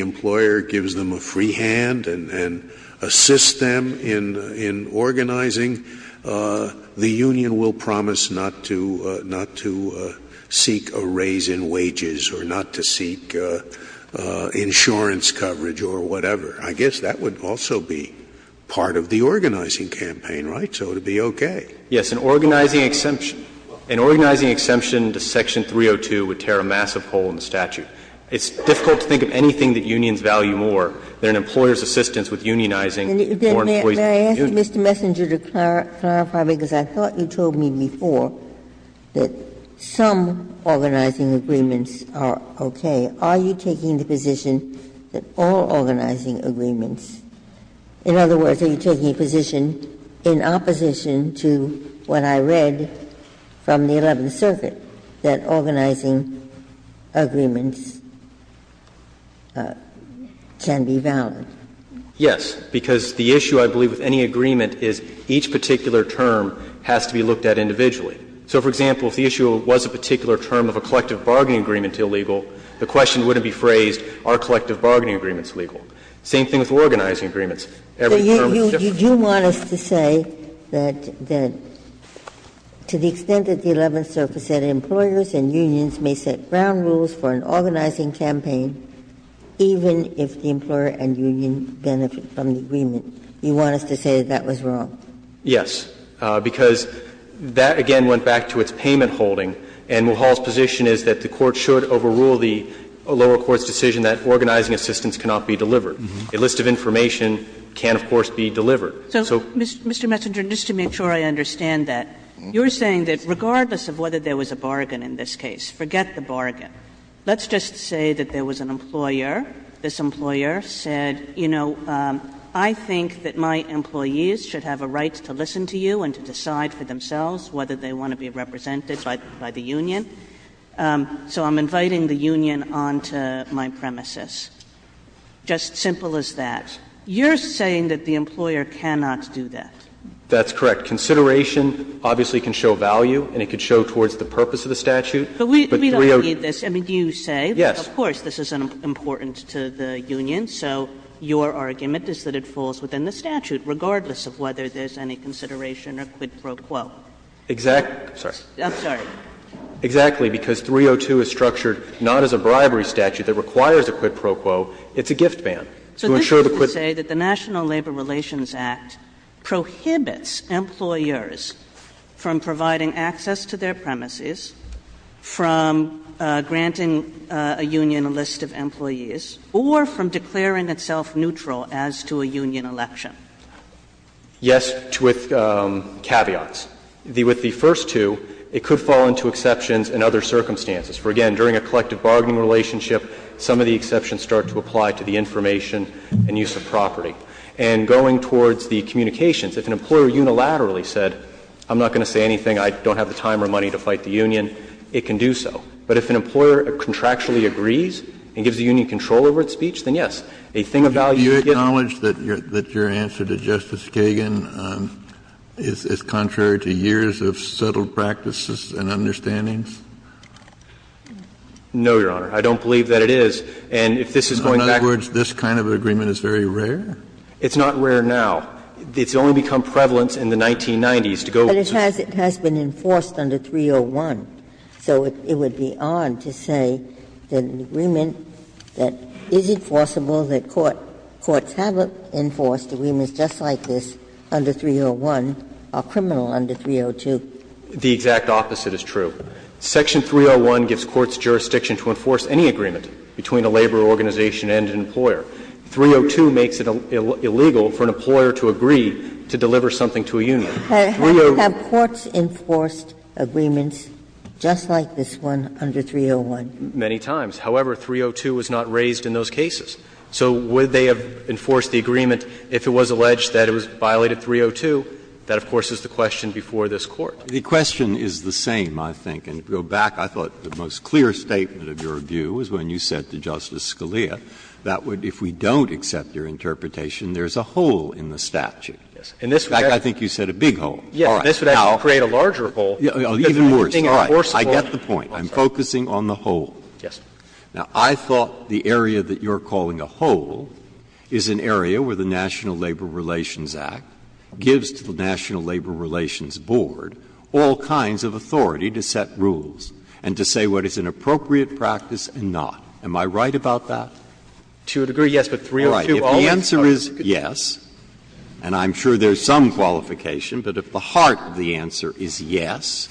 union will promise not to seek a raise in wages or not to seek insurance coverage or whatever. I guess that would also be part of the organizing campaign, right? So it would be okay. Yes. An organizing exemption to Section 302 would tear a massive hole in the statute. It's difficult to think of anything that unions value more than an employer's assistance with unionizing foreign employees. Ginsburg. May I ask you, Mr. Messenger, to clarify, because I thought you told me before that some organizing agreements are okay. Are you taking the position that all organizing agreements, in other words, are you taking a position in opposition to what I read from the Eleventh Circuit, that organizing agreements can be valid? Yes, because the issue, I believe, with any agreement is each particular term has to be looked at individually. So, for example, if the issue was a particular term of a collective bargaining agreement illegal, the question wouldn't be phrased, are collective bargaining agreements legal? Same thing with organizing agreements. Every term is different. You do want us to say that to the extent that the Eleventh Circuit said employers and unions may set ground rules for an organizing campaign, even if the employer and union benefit from the agreement, you want us to say that that was wrong? Yes, because that, again, went back to its payment holding, and Mulhall's position is that the Court should overrule the lower court's decision that organizing assistance cannot be delivered. A list of information can, of course, be delivered. So, Mr. Messenger, just to make sure I understand that, you're saying that regardless Let's just say that there was an employer. This employer said, you know, I think that my employees should have a right to listen to you and to decide for themselves whether they want to be represented by the union. So I'm inviting the union onto my premises. Just simple as that. You're saying that the employer cannot do that. That's correct. Consideration obviously can show value and it can show towards the purpose of the statute. But we don't need this. I mean, do you say that, of course, this is important to the union, so your argument is that it falls within the statute, regardless of whether there's any consideration or quid pro quo? Exactly. I'm sorry. I'm sorry. Exactly. Because 302 is structured not as a bribery statute that requires a quid pro quo. It's a gift ban. So this is to say that the National Labor Relations Act prohibits employers from providing access to their premises, from granting a union a list of employees, or from declaring itself neutral as to a union election. Yes, with caveats. With the first two, it could fall into exceptions and other circumstances. For, again, during a collective bargaining relationship, some of the exceptions start to apply to the information and use of property. And going towards the communications, if an employer unilaterally said, I'm not going to say anything, I don't have the time or money to fight the union, it can do so. But if an employer contractually agrees and gives the union control over its speech, then, yes, a thing of value is given. Do you acknowledge that your answer to Justice Kagan is contrary to years of settled practices and understandings? No, Your Honor. I don't believe that it is. And if this is going back to the courts, this kind of agreement is very rare. It's not rare now. It's only become prevalent in the 1990s to go to the courts. But it has been enforced under 301. So it would be odd to say that an agreement that is enforceable, that courts haven't enforced agreements just like this under 301, are criminal under 302. The exact opposite is true. Section 301 gives courts jurisdiction to enforce any agreement between a labor organization and an employer. 302 makes it illegal for an employer to agree to deliver something to a union. 302. Have courts enforced agreements just like this one under 301? Many times. However, 302 was not raised in those cases. So would they have enforced the agreement if it was alleged that it was violated 302? That, of course, is the question before this Court. The question is the same, I think. And to go back, I thought the most clear statement of your view was when you said to Justice Scalia that if we don't accept your interpretation, there's a hole in the statute. In fact, I think you said a big hole. All right. Now, even worse. I get the point. I'm focusing on the hole. Now, I thought the area that you're calling a hole is an area where the National Labor Relations Act gives to the National Labor Relations Board all kinds of authority to set rules and to say what is an appropriate practice and not. Am I right about that? To a degree, yes. But 302 always tells you it's not. All right. If the answer is yes, and I'm sure there's some qualification, but if the heart of the answer is yes,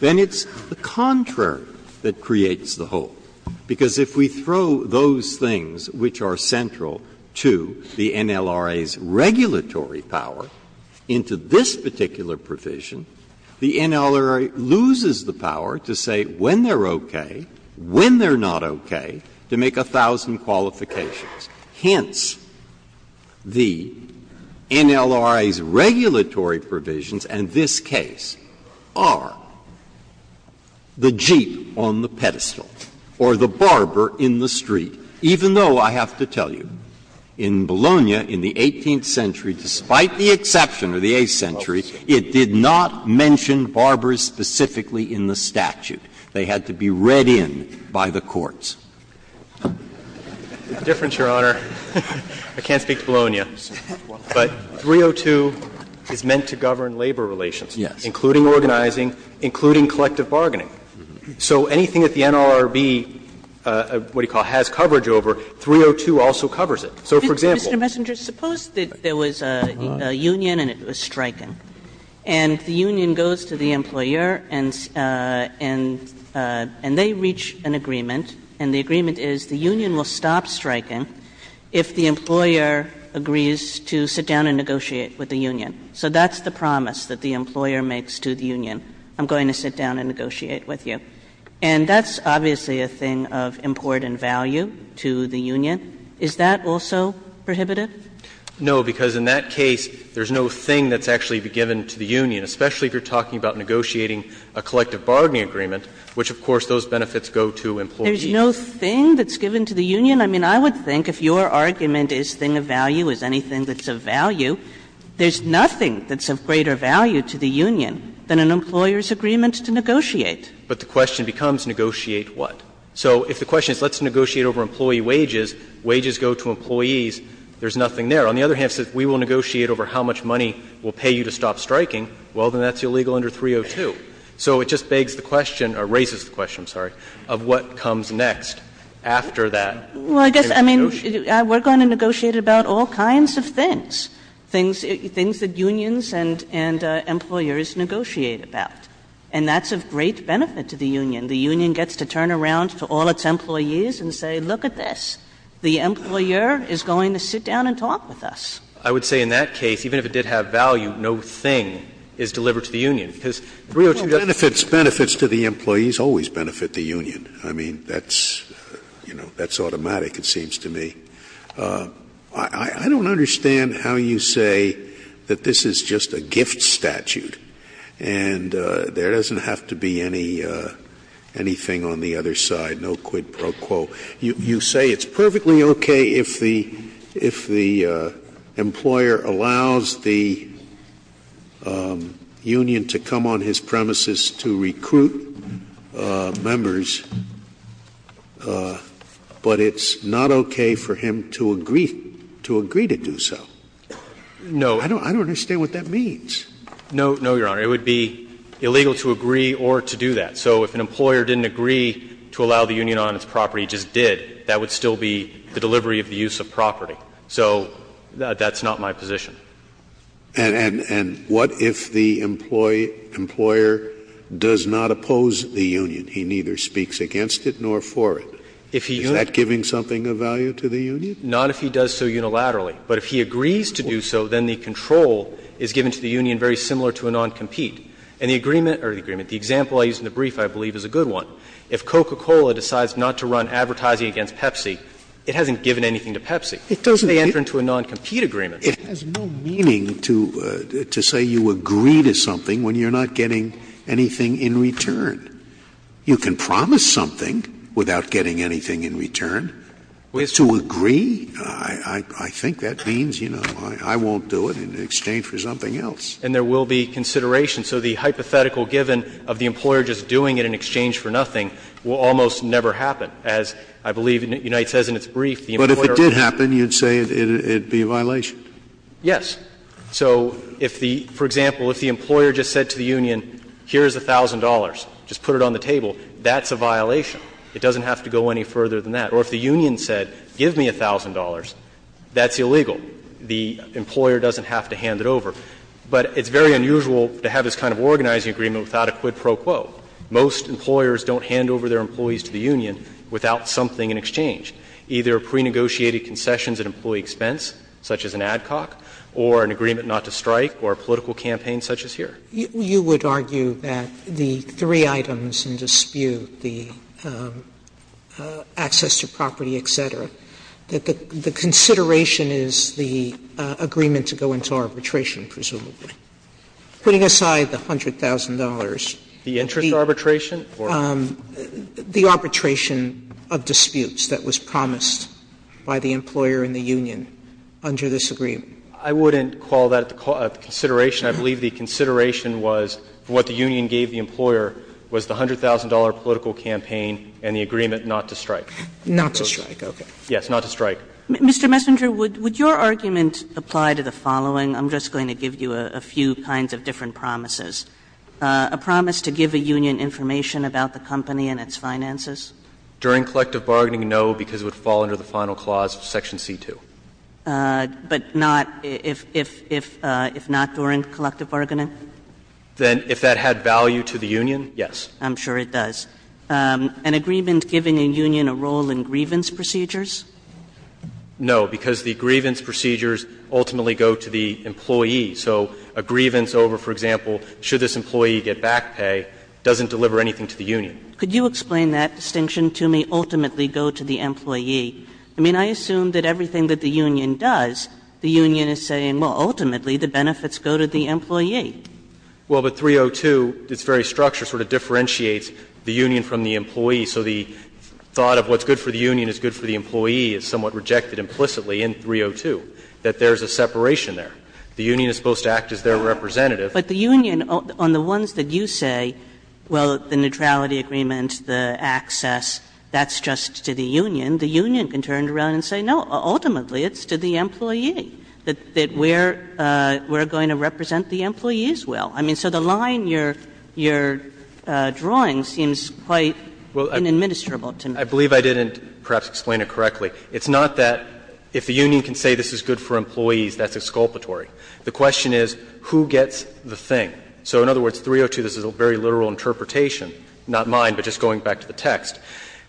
then it's the contrary that creates the hole. Because if we throw those things which are central to the NLRA's regulatory power into this particular provision, the NLRA loses the power to say when they're okay, when they're not okay, to make a thousand qualifications. Hence, the NLRA's regulatory provisions in this case are the jeep on the pedestal or the barber in the street, even though I have to tell you in Bologna in the 18th century, despite the exception of the 8th century, it did not mention barbers specifically in the statute. They had to be read in by the courts. The difference, Your Honor, I can't speak to Bologna, but 302 is meant to govern labor relations. Yes. Including organizing, including collective bargaining. So anything that the NLRB, what do you call it, has coverage over, 302 also covers it. So, for example. Mr. Messenger, suppose that there was a union and it was striking. And the union goes to the employer and they reach an agreement, and the agreement is the union will stop striking if the employer agrees to sit down and negotiate with the union. So that's the promise that the employer makes to the union. I'm going to sit down and negotiate with you. And that's obviously a thing of important value to the union. Is that also prohibitive? No, because in that case, there's no thing that's actually given to the union, especially if you're talking about negotiating a collective bargaining agreement, which, of course, those benefits go to employees. There's no thing that's given to the union? I mean, I would think if your argument is thing of value, is anything that's of value, there's nothing that's of greater value to the union than an employer's agreement to negotiate. But the question becomes negotiate what? So if the question is let's negotiate over employee wages, wages go to employees, there's nothing there. On the other hand, if it says we will negotiate over how much money we'll pay you to stop striking, well, then that's illegal under 302. So it just begs the question, or raises the question, I'm sorry, of what comes next after that. Kagan. Well, I guess, I mean, we're going to negotiate about all kinds of things, things that unions and employers negotiate about. And that's of great benefit to the union. The union gets to turn around to all its employees and say, look at this, the employer is going to sit down and talk with us. I would say in that case, even if it did have value, no thing is delivered to the union, because 302 doesn't. Scalia, benefits to the employees always benefit the union. I mean, that's, you know, that's automatic, it seems to me. I don't understand how you say that this is just a gift statute and there doesn't have to be anything on the other side, no quid pro quo. You say it's perfectly okay if the employer allows the union to come on his premises to recruit members, but it's not okay for him to agree to do so. No. I don't understand what that means. No, no, Your Honor. It would be illegal to agree or to do that. So if an employer didn't agree to allow the union on its property, just did, that would still be the delivery of the use of property. So that's not my position. And what if the employer does not oppose the union? He neither speaks against it nor for it. Is that giving something of value to the union? Not if he does so unilaterally. But if he agrees to do so, then the control is given to the union very similar to a noncompete. And the agreement or the agreement, the example I used in the brief, I believe, is a good one. If Coca-Cola decides not to run advertising against Pepsi, it hasn't given anything to Pepsi. They enter into a noncompete agreement. It has no meaning to say you agree to something when you're not getting anything in return. You can promise something without getting anything in return. To agree, I think that means, you know, I won't do it in exchange for something else. And there will be consideration. So the hypothetical given of the employer just doing it in exchange for nothing will almost never happen. As I believe Unite says in its brief, the employer But if it did happen, you'd say it would be a violation. Yes. So if the, for example, if the employer just said to the union, here's $1,000, just put it on the table, that's a violation. It doesn't have to go any further than that. Or if the union said, give me $1,000, that's illegal. The employer doesn't have to hand it over. But it's very unusual to have this kind of organizing agreement without a quid pro quo. Most employers don't hand over their employees to the union without something in exchange, either prenegotiated concessions at employee expense, such as an ad hoc, or an agreement not to strike, or a political campaign such as here. Sotomayor You would argue that the three items in dispute, the access to property, et cetera, that the consideration is the agreement to go into arbitration, presumably. Putting aside the $100,000, the interest arbitration or the arbitration of disputes that was promised by the employer and the union under this agreement. I wouldn't call that a consideration. I believe the consideration was what the union gave the employer was the $100,000 political campaign and the agreement not to strike. Sotomayor Not to strike, okay. Mr. Messenger Yes, not to strike. Kagan Mr. Messenger, would your argument apply to the following? I'm just going to give you a few kinds of different promises. A promise to give a union information about the company and its finances? Messenger During collective bargaining, no, because it would fall under the final clause of section C-2. Kagan But not if not during collective bargaining? Messenger Then if that had value to the union, yes. Kagan I'm sure it does. An agreement giving a union a role in grievance procedures? Messenger No, because the grievance procedures ultimately go to the employee. So a grievance over, for example, should this employee get back pay doesn't deliver anything to the union. Kagan Could you explain that distinction to me, ultimately go to the employee? I mean, I assume that everything that the union does, the union is saying, well, ultimately the benefits go to the employee. Messenger Well, but 302, its very structure sort of differentiates the union from the employee. So the thought of what's good for the union is good for the employee is somewhat rejected implicitly in 302, that there is a separation there. The union is supposed to act as their representative. Kagan But the union, on the ones that you say, well, the neutrality agreement, the access, that's just to the union, the union can turn around and say, no, ultimately it's to the employee, that we're going to represent the employee as well. I mean, so the line you're drawing seems quite inadministrable to me. Messenger I believe I didn't perhaps explain it correctly. It's not that if the union can say this is good for employees, that's exculpatory. The question is who gets the thing. So in other words, 302, this is a very literal interpretation, not mine, but just going back to the text.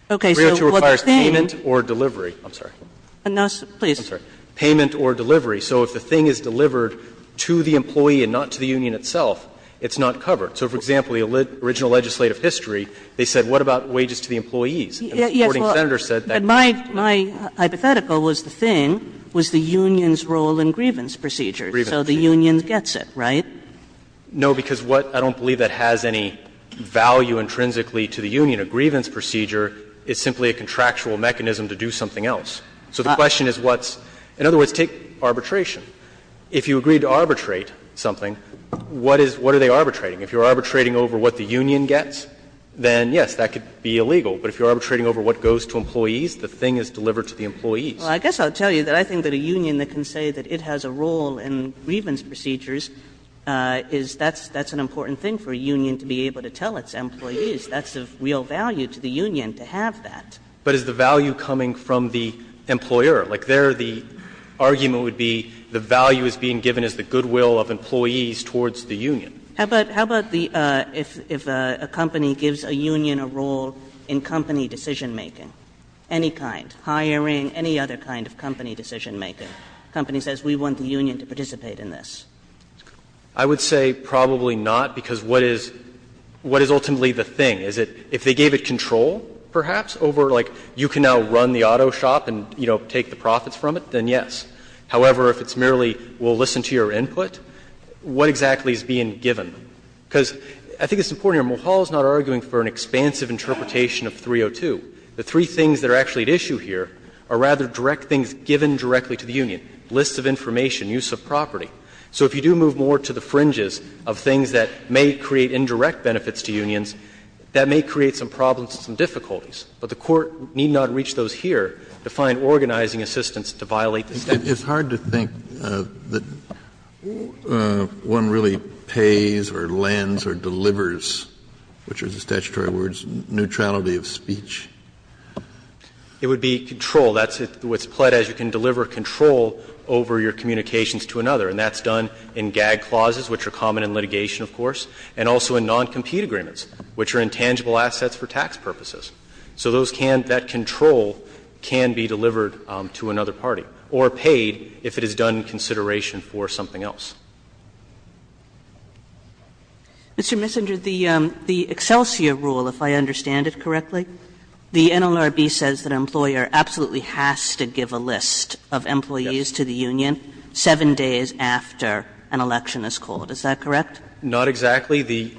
302 requires payment or delivery. I'm sorry. Kagan And now, please. Messenger I'm sorry. Payment or delivery. So if the thing is delivered to the employee and not to the union itself, it's not covered. So for example, the original legislative history, they said what about wages to the employees? And the supporting senator said that. Kagan But my hypothetical was the thing was the union's role in grievance procedure. Messenger Grievance procedure. Kagan So the union gets it, right? Messenger No, because what – I don't believe that has any value intrinsically to the union. A grievance procedure is simply a contractual mechanism to do something else. Messenger So the question is what's – in other words, take arbitration. If you agreed to arbitrate something, what is – what are they arbitrating? If you're arbitrating over what the union gets, then yes, that could be illegal. But if you're arbitrating over what goes to employees, the thing is delivered to the employees. Kagan Well, I guess I'll tell you that I think that a union that can say that it has a role in grievance procedures is that's an important thing for a union to be able to tell its employees. That's of real value to the union to have that. Messenger But is the value coming from the employer? Like, there the argument would be the value is being given as the goodwill of employees towards the union. Kagan How about – how about the – if a company gives a union a role in company decision-making, any kind, hiring, any other kind of company decision-making? The company says we want the union to participate in this. Messenger I would say probably not, because what is – what is ultimately the thing? Is it if they gave it control, perhaps, over, like, you can now run the auto shop and, you know, take the profits from it, then yes. However, if it's merely we'll listen to your input, what exactly is being given? Because I think it's important here. Mulhall is not arguing for an expansive interpretation of 302. The three things that are actually at issue here are rather direct things given directly to the union, lists of information, use of property. So if you do move more to the fringes of things that may create indirect benefits to unions, that may create some problems and some difficulties. But the Court need not reach those here to find organizing assistance to violate the statute. Kennedy It's hard to think that one really pays or lends or delivers, which are the statutory words, neutrality of speech. Messenger It would be control. That's what's pled as you can deliver control over your communications to another. And that's done in gag clauses, which are common in litigation, of course, and also in non-compete agreements, which are intangible assets for tax purposes. So those can, that control can be delivered to another party or paid if it is done in consideration for something else. Kagan Mr. Messenger, the Excelsior rule, if I understand it correctly, the NLRB says that an employer absolutely has to give a list of employees to the union 7 days after an election is called. Is that correct? Messenger Not exactly. The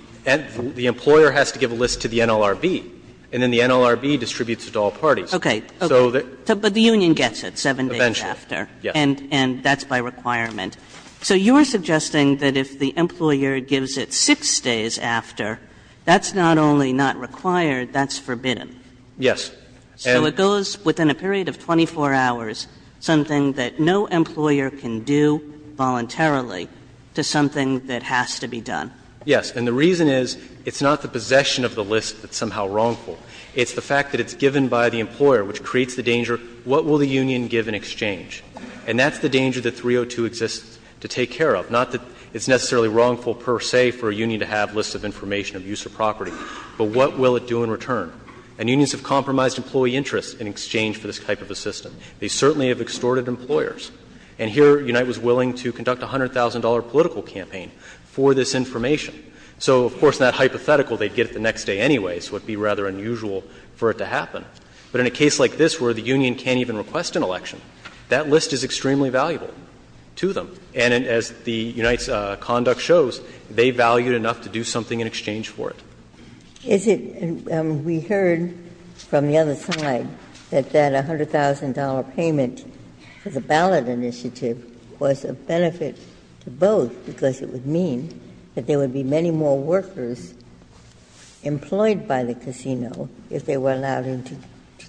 employer has to give a list to the NLRB, and then the NLRB distributes it to all parties. Kagan So the union gets it 7 days after. Messenger Eventually, yes. Kagan And that's by requirement. So you are suggesting that if the employer gives it 6 days after, that's not only not required, that's forbidden. Messenger Yes. Kagan So it goes within a period of 24 hours, something that no employer can do voluntarily to something that has to be done. Messenger Yes. And the reason is, it's not the possession of the list that's somehow wrongful. It's the fact that it's given by the employer, which creates the danger, what will the union give in exchange? And that's the danger that 302 exists to take care of, not that it's necessarily wrongful per se for a union to have lists of information of use of property, but what will it do in return? And unions have compromised employee interest in exchange for this type of a system. They certainly have extorted employers. And here, Unite was willing to conduct a $100,000 political campaign for this information So, of course, in that hypothetical, they'd get it the next day anyway, so it would be rather unusual for it to happen. But in a case like this where the union can't even request an election, that list is extremely valuable to them. And as the Unite's conduct shows, they value it enough to do something in exchange for it. Ginsburg Is it we heard from the other side that that $100,000 payment for the ballot initiative was a benefit to both, because it would mean that there would be many more workers employed by the casino if they were allowed to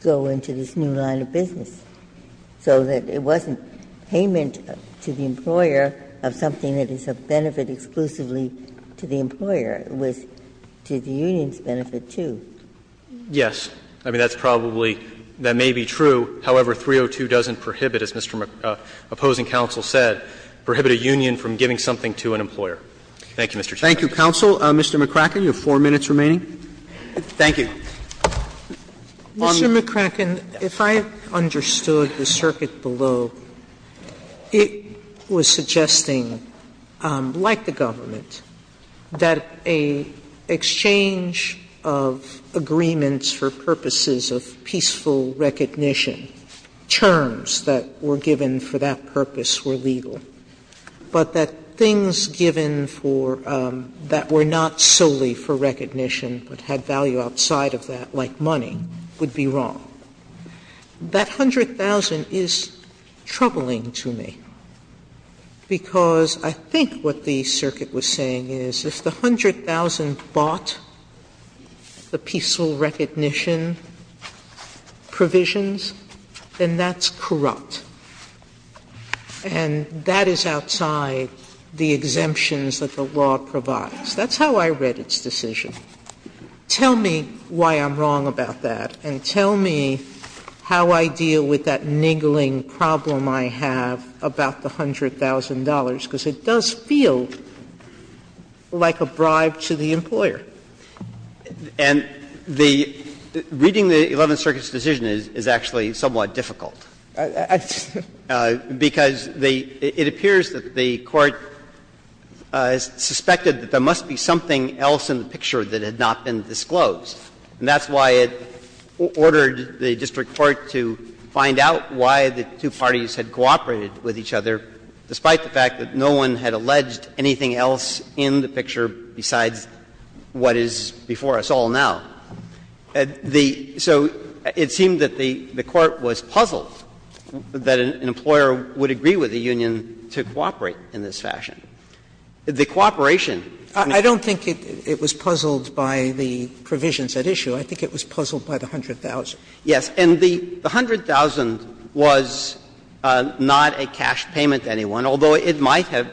go into this new line of business, so that it wasn't payment to the employer of something that is a benefit exclusively to the employer. It was to the union's benefit, too. Yes. I mean, that's probably – that may be true. However, 302 doesn't prohibit, as Mr. McCracken, opposing counsel said, prohibit a union from giving something to an employer. Thank you, Mr. Chaffetz. Thank you, counsel. Mr. McCracken, you have four minutes remaining. Thank you. Mr. McCracken, if I understood the circuit below, it was suggesting, like the government, that an exchange of agreements for purposes of peaceful recognition, terms that were given for that purpose were legal, but that things given for – that were not solely for recognition but had value outside of that, like money, would be wrong. That $100,000 is troubling to me, because I think what the circuit was saying is if the $100,000 bought the peaceful recognition provisions, then that's corrupt and that is outside the exemptions that the law provides. That's how I read its decision. Tell me why I'm wrong about that, and tell me how I deal with that niggling problem I have about the $100,000, because it does feel like a bribe to the employer. And the – reading the Eleventh Circuit's decision is actually somewhat difficult. I just – Because it appears that the Court suspected that there must be something else in the picture that had not been disclosed, and that's why it ordered the district court to find out why the two parties had cooperated with each other, despite the fact that no one had alleged anything else in the picture besides what is before us all now. The – so it seemed that the Court was puzzled that an employer would agree with the union to cooperate in this fashion. Sotomayor was puzzled by the provisions at issue. I think it was puzzled by the $100,000. Yes. And the $100,000 was not a cash payment to anyone, although it might have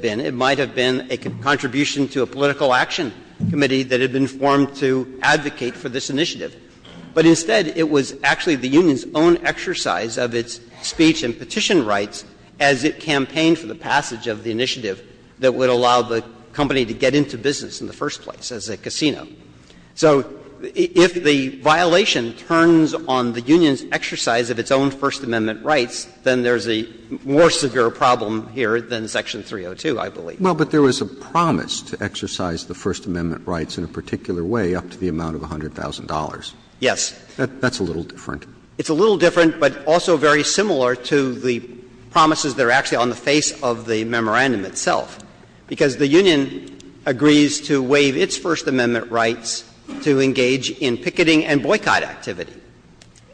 been. It might have been a contribution to a political action committee that had been formed to advocate for this initiative. But instead, it was actually the union's own exercise of its speech and petition rights as it campaigned for the passage of the initiative that would allow the company to get into business in the first place as a casino. So if the violation turns on the union's exercise of its own First Amendment rights, then there's a more severe problem here than Section 302, I believe. Well, but there was a promise to exercise the First Amendment rights in a particular way up to the amount of $100,000. Yes. That's a little different. It's a little different, but also very similar to the promises that are actually on the face of the memorandum itself, because the union agrees to waive its First Amendment rights to engage in picketing and boycott activity,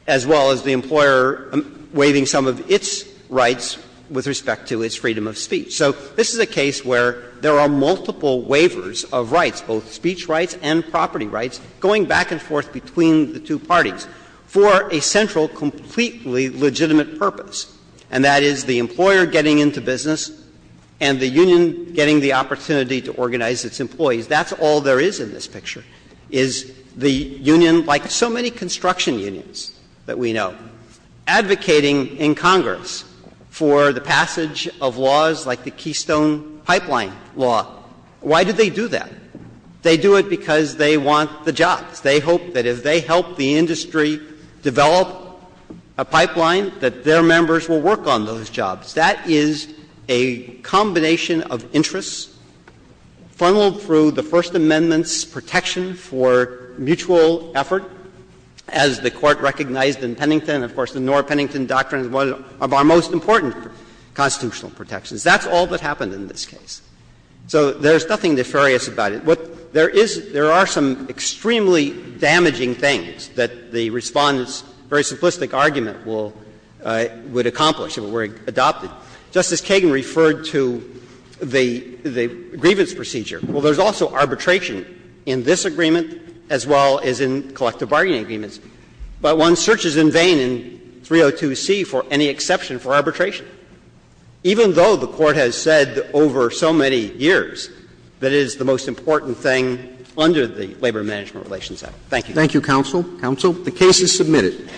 as well as the employer waiving some of its rights with respect to its freedom of speech. So this is a case where there are multiple waivers of rights, both speech rights and property rights, going back and forth between the two parties for a central, completely legitimate purpose, and that is the employer getting into business and the union getting the opportunity to organize its employees. That's all there is in this picture, is the union, like so many construction unions that we know, advocating in Congress for the passage of laws like the Keystone Pipeline Law. Why did they do that? They do it because they want the jobs. They hope that if they help the industry develop a pipeline, that their members will work on those jobs. That is a combination of interests funneled through the First Amendment's protection for mutual effort, as the Court recognized in Pennington. Of course, the Norr-Pennington Doctrine is one of our most important constitutional protections. That's all that happened in this case. So there's nothing nefarious about it. There are some extremely damaging things that the Respondent's very simplistic argument will accomplish, if it were adopted. Justice Kagan referred to the grievance procedure. Well, there's also arbitration in this agreement as well as in collective bargaining agreements, but one searches in vain in 302C for any exception for arbitration. Even though the Court has said over so many years that it is the most important thing under the Labor Management Relations Act. Thank you. Thank you, counsel. Counsel, the case is submitted.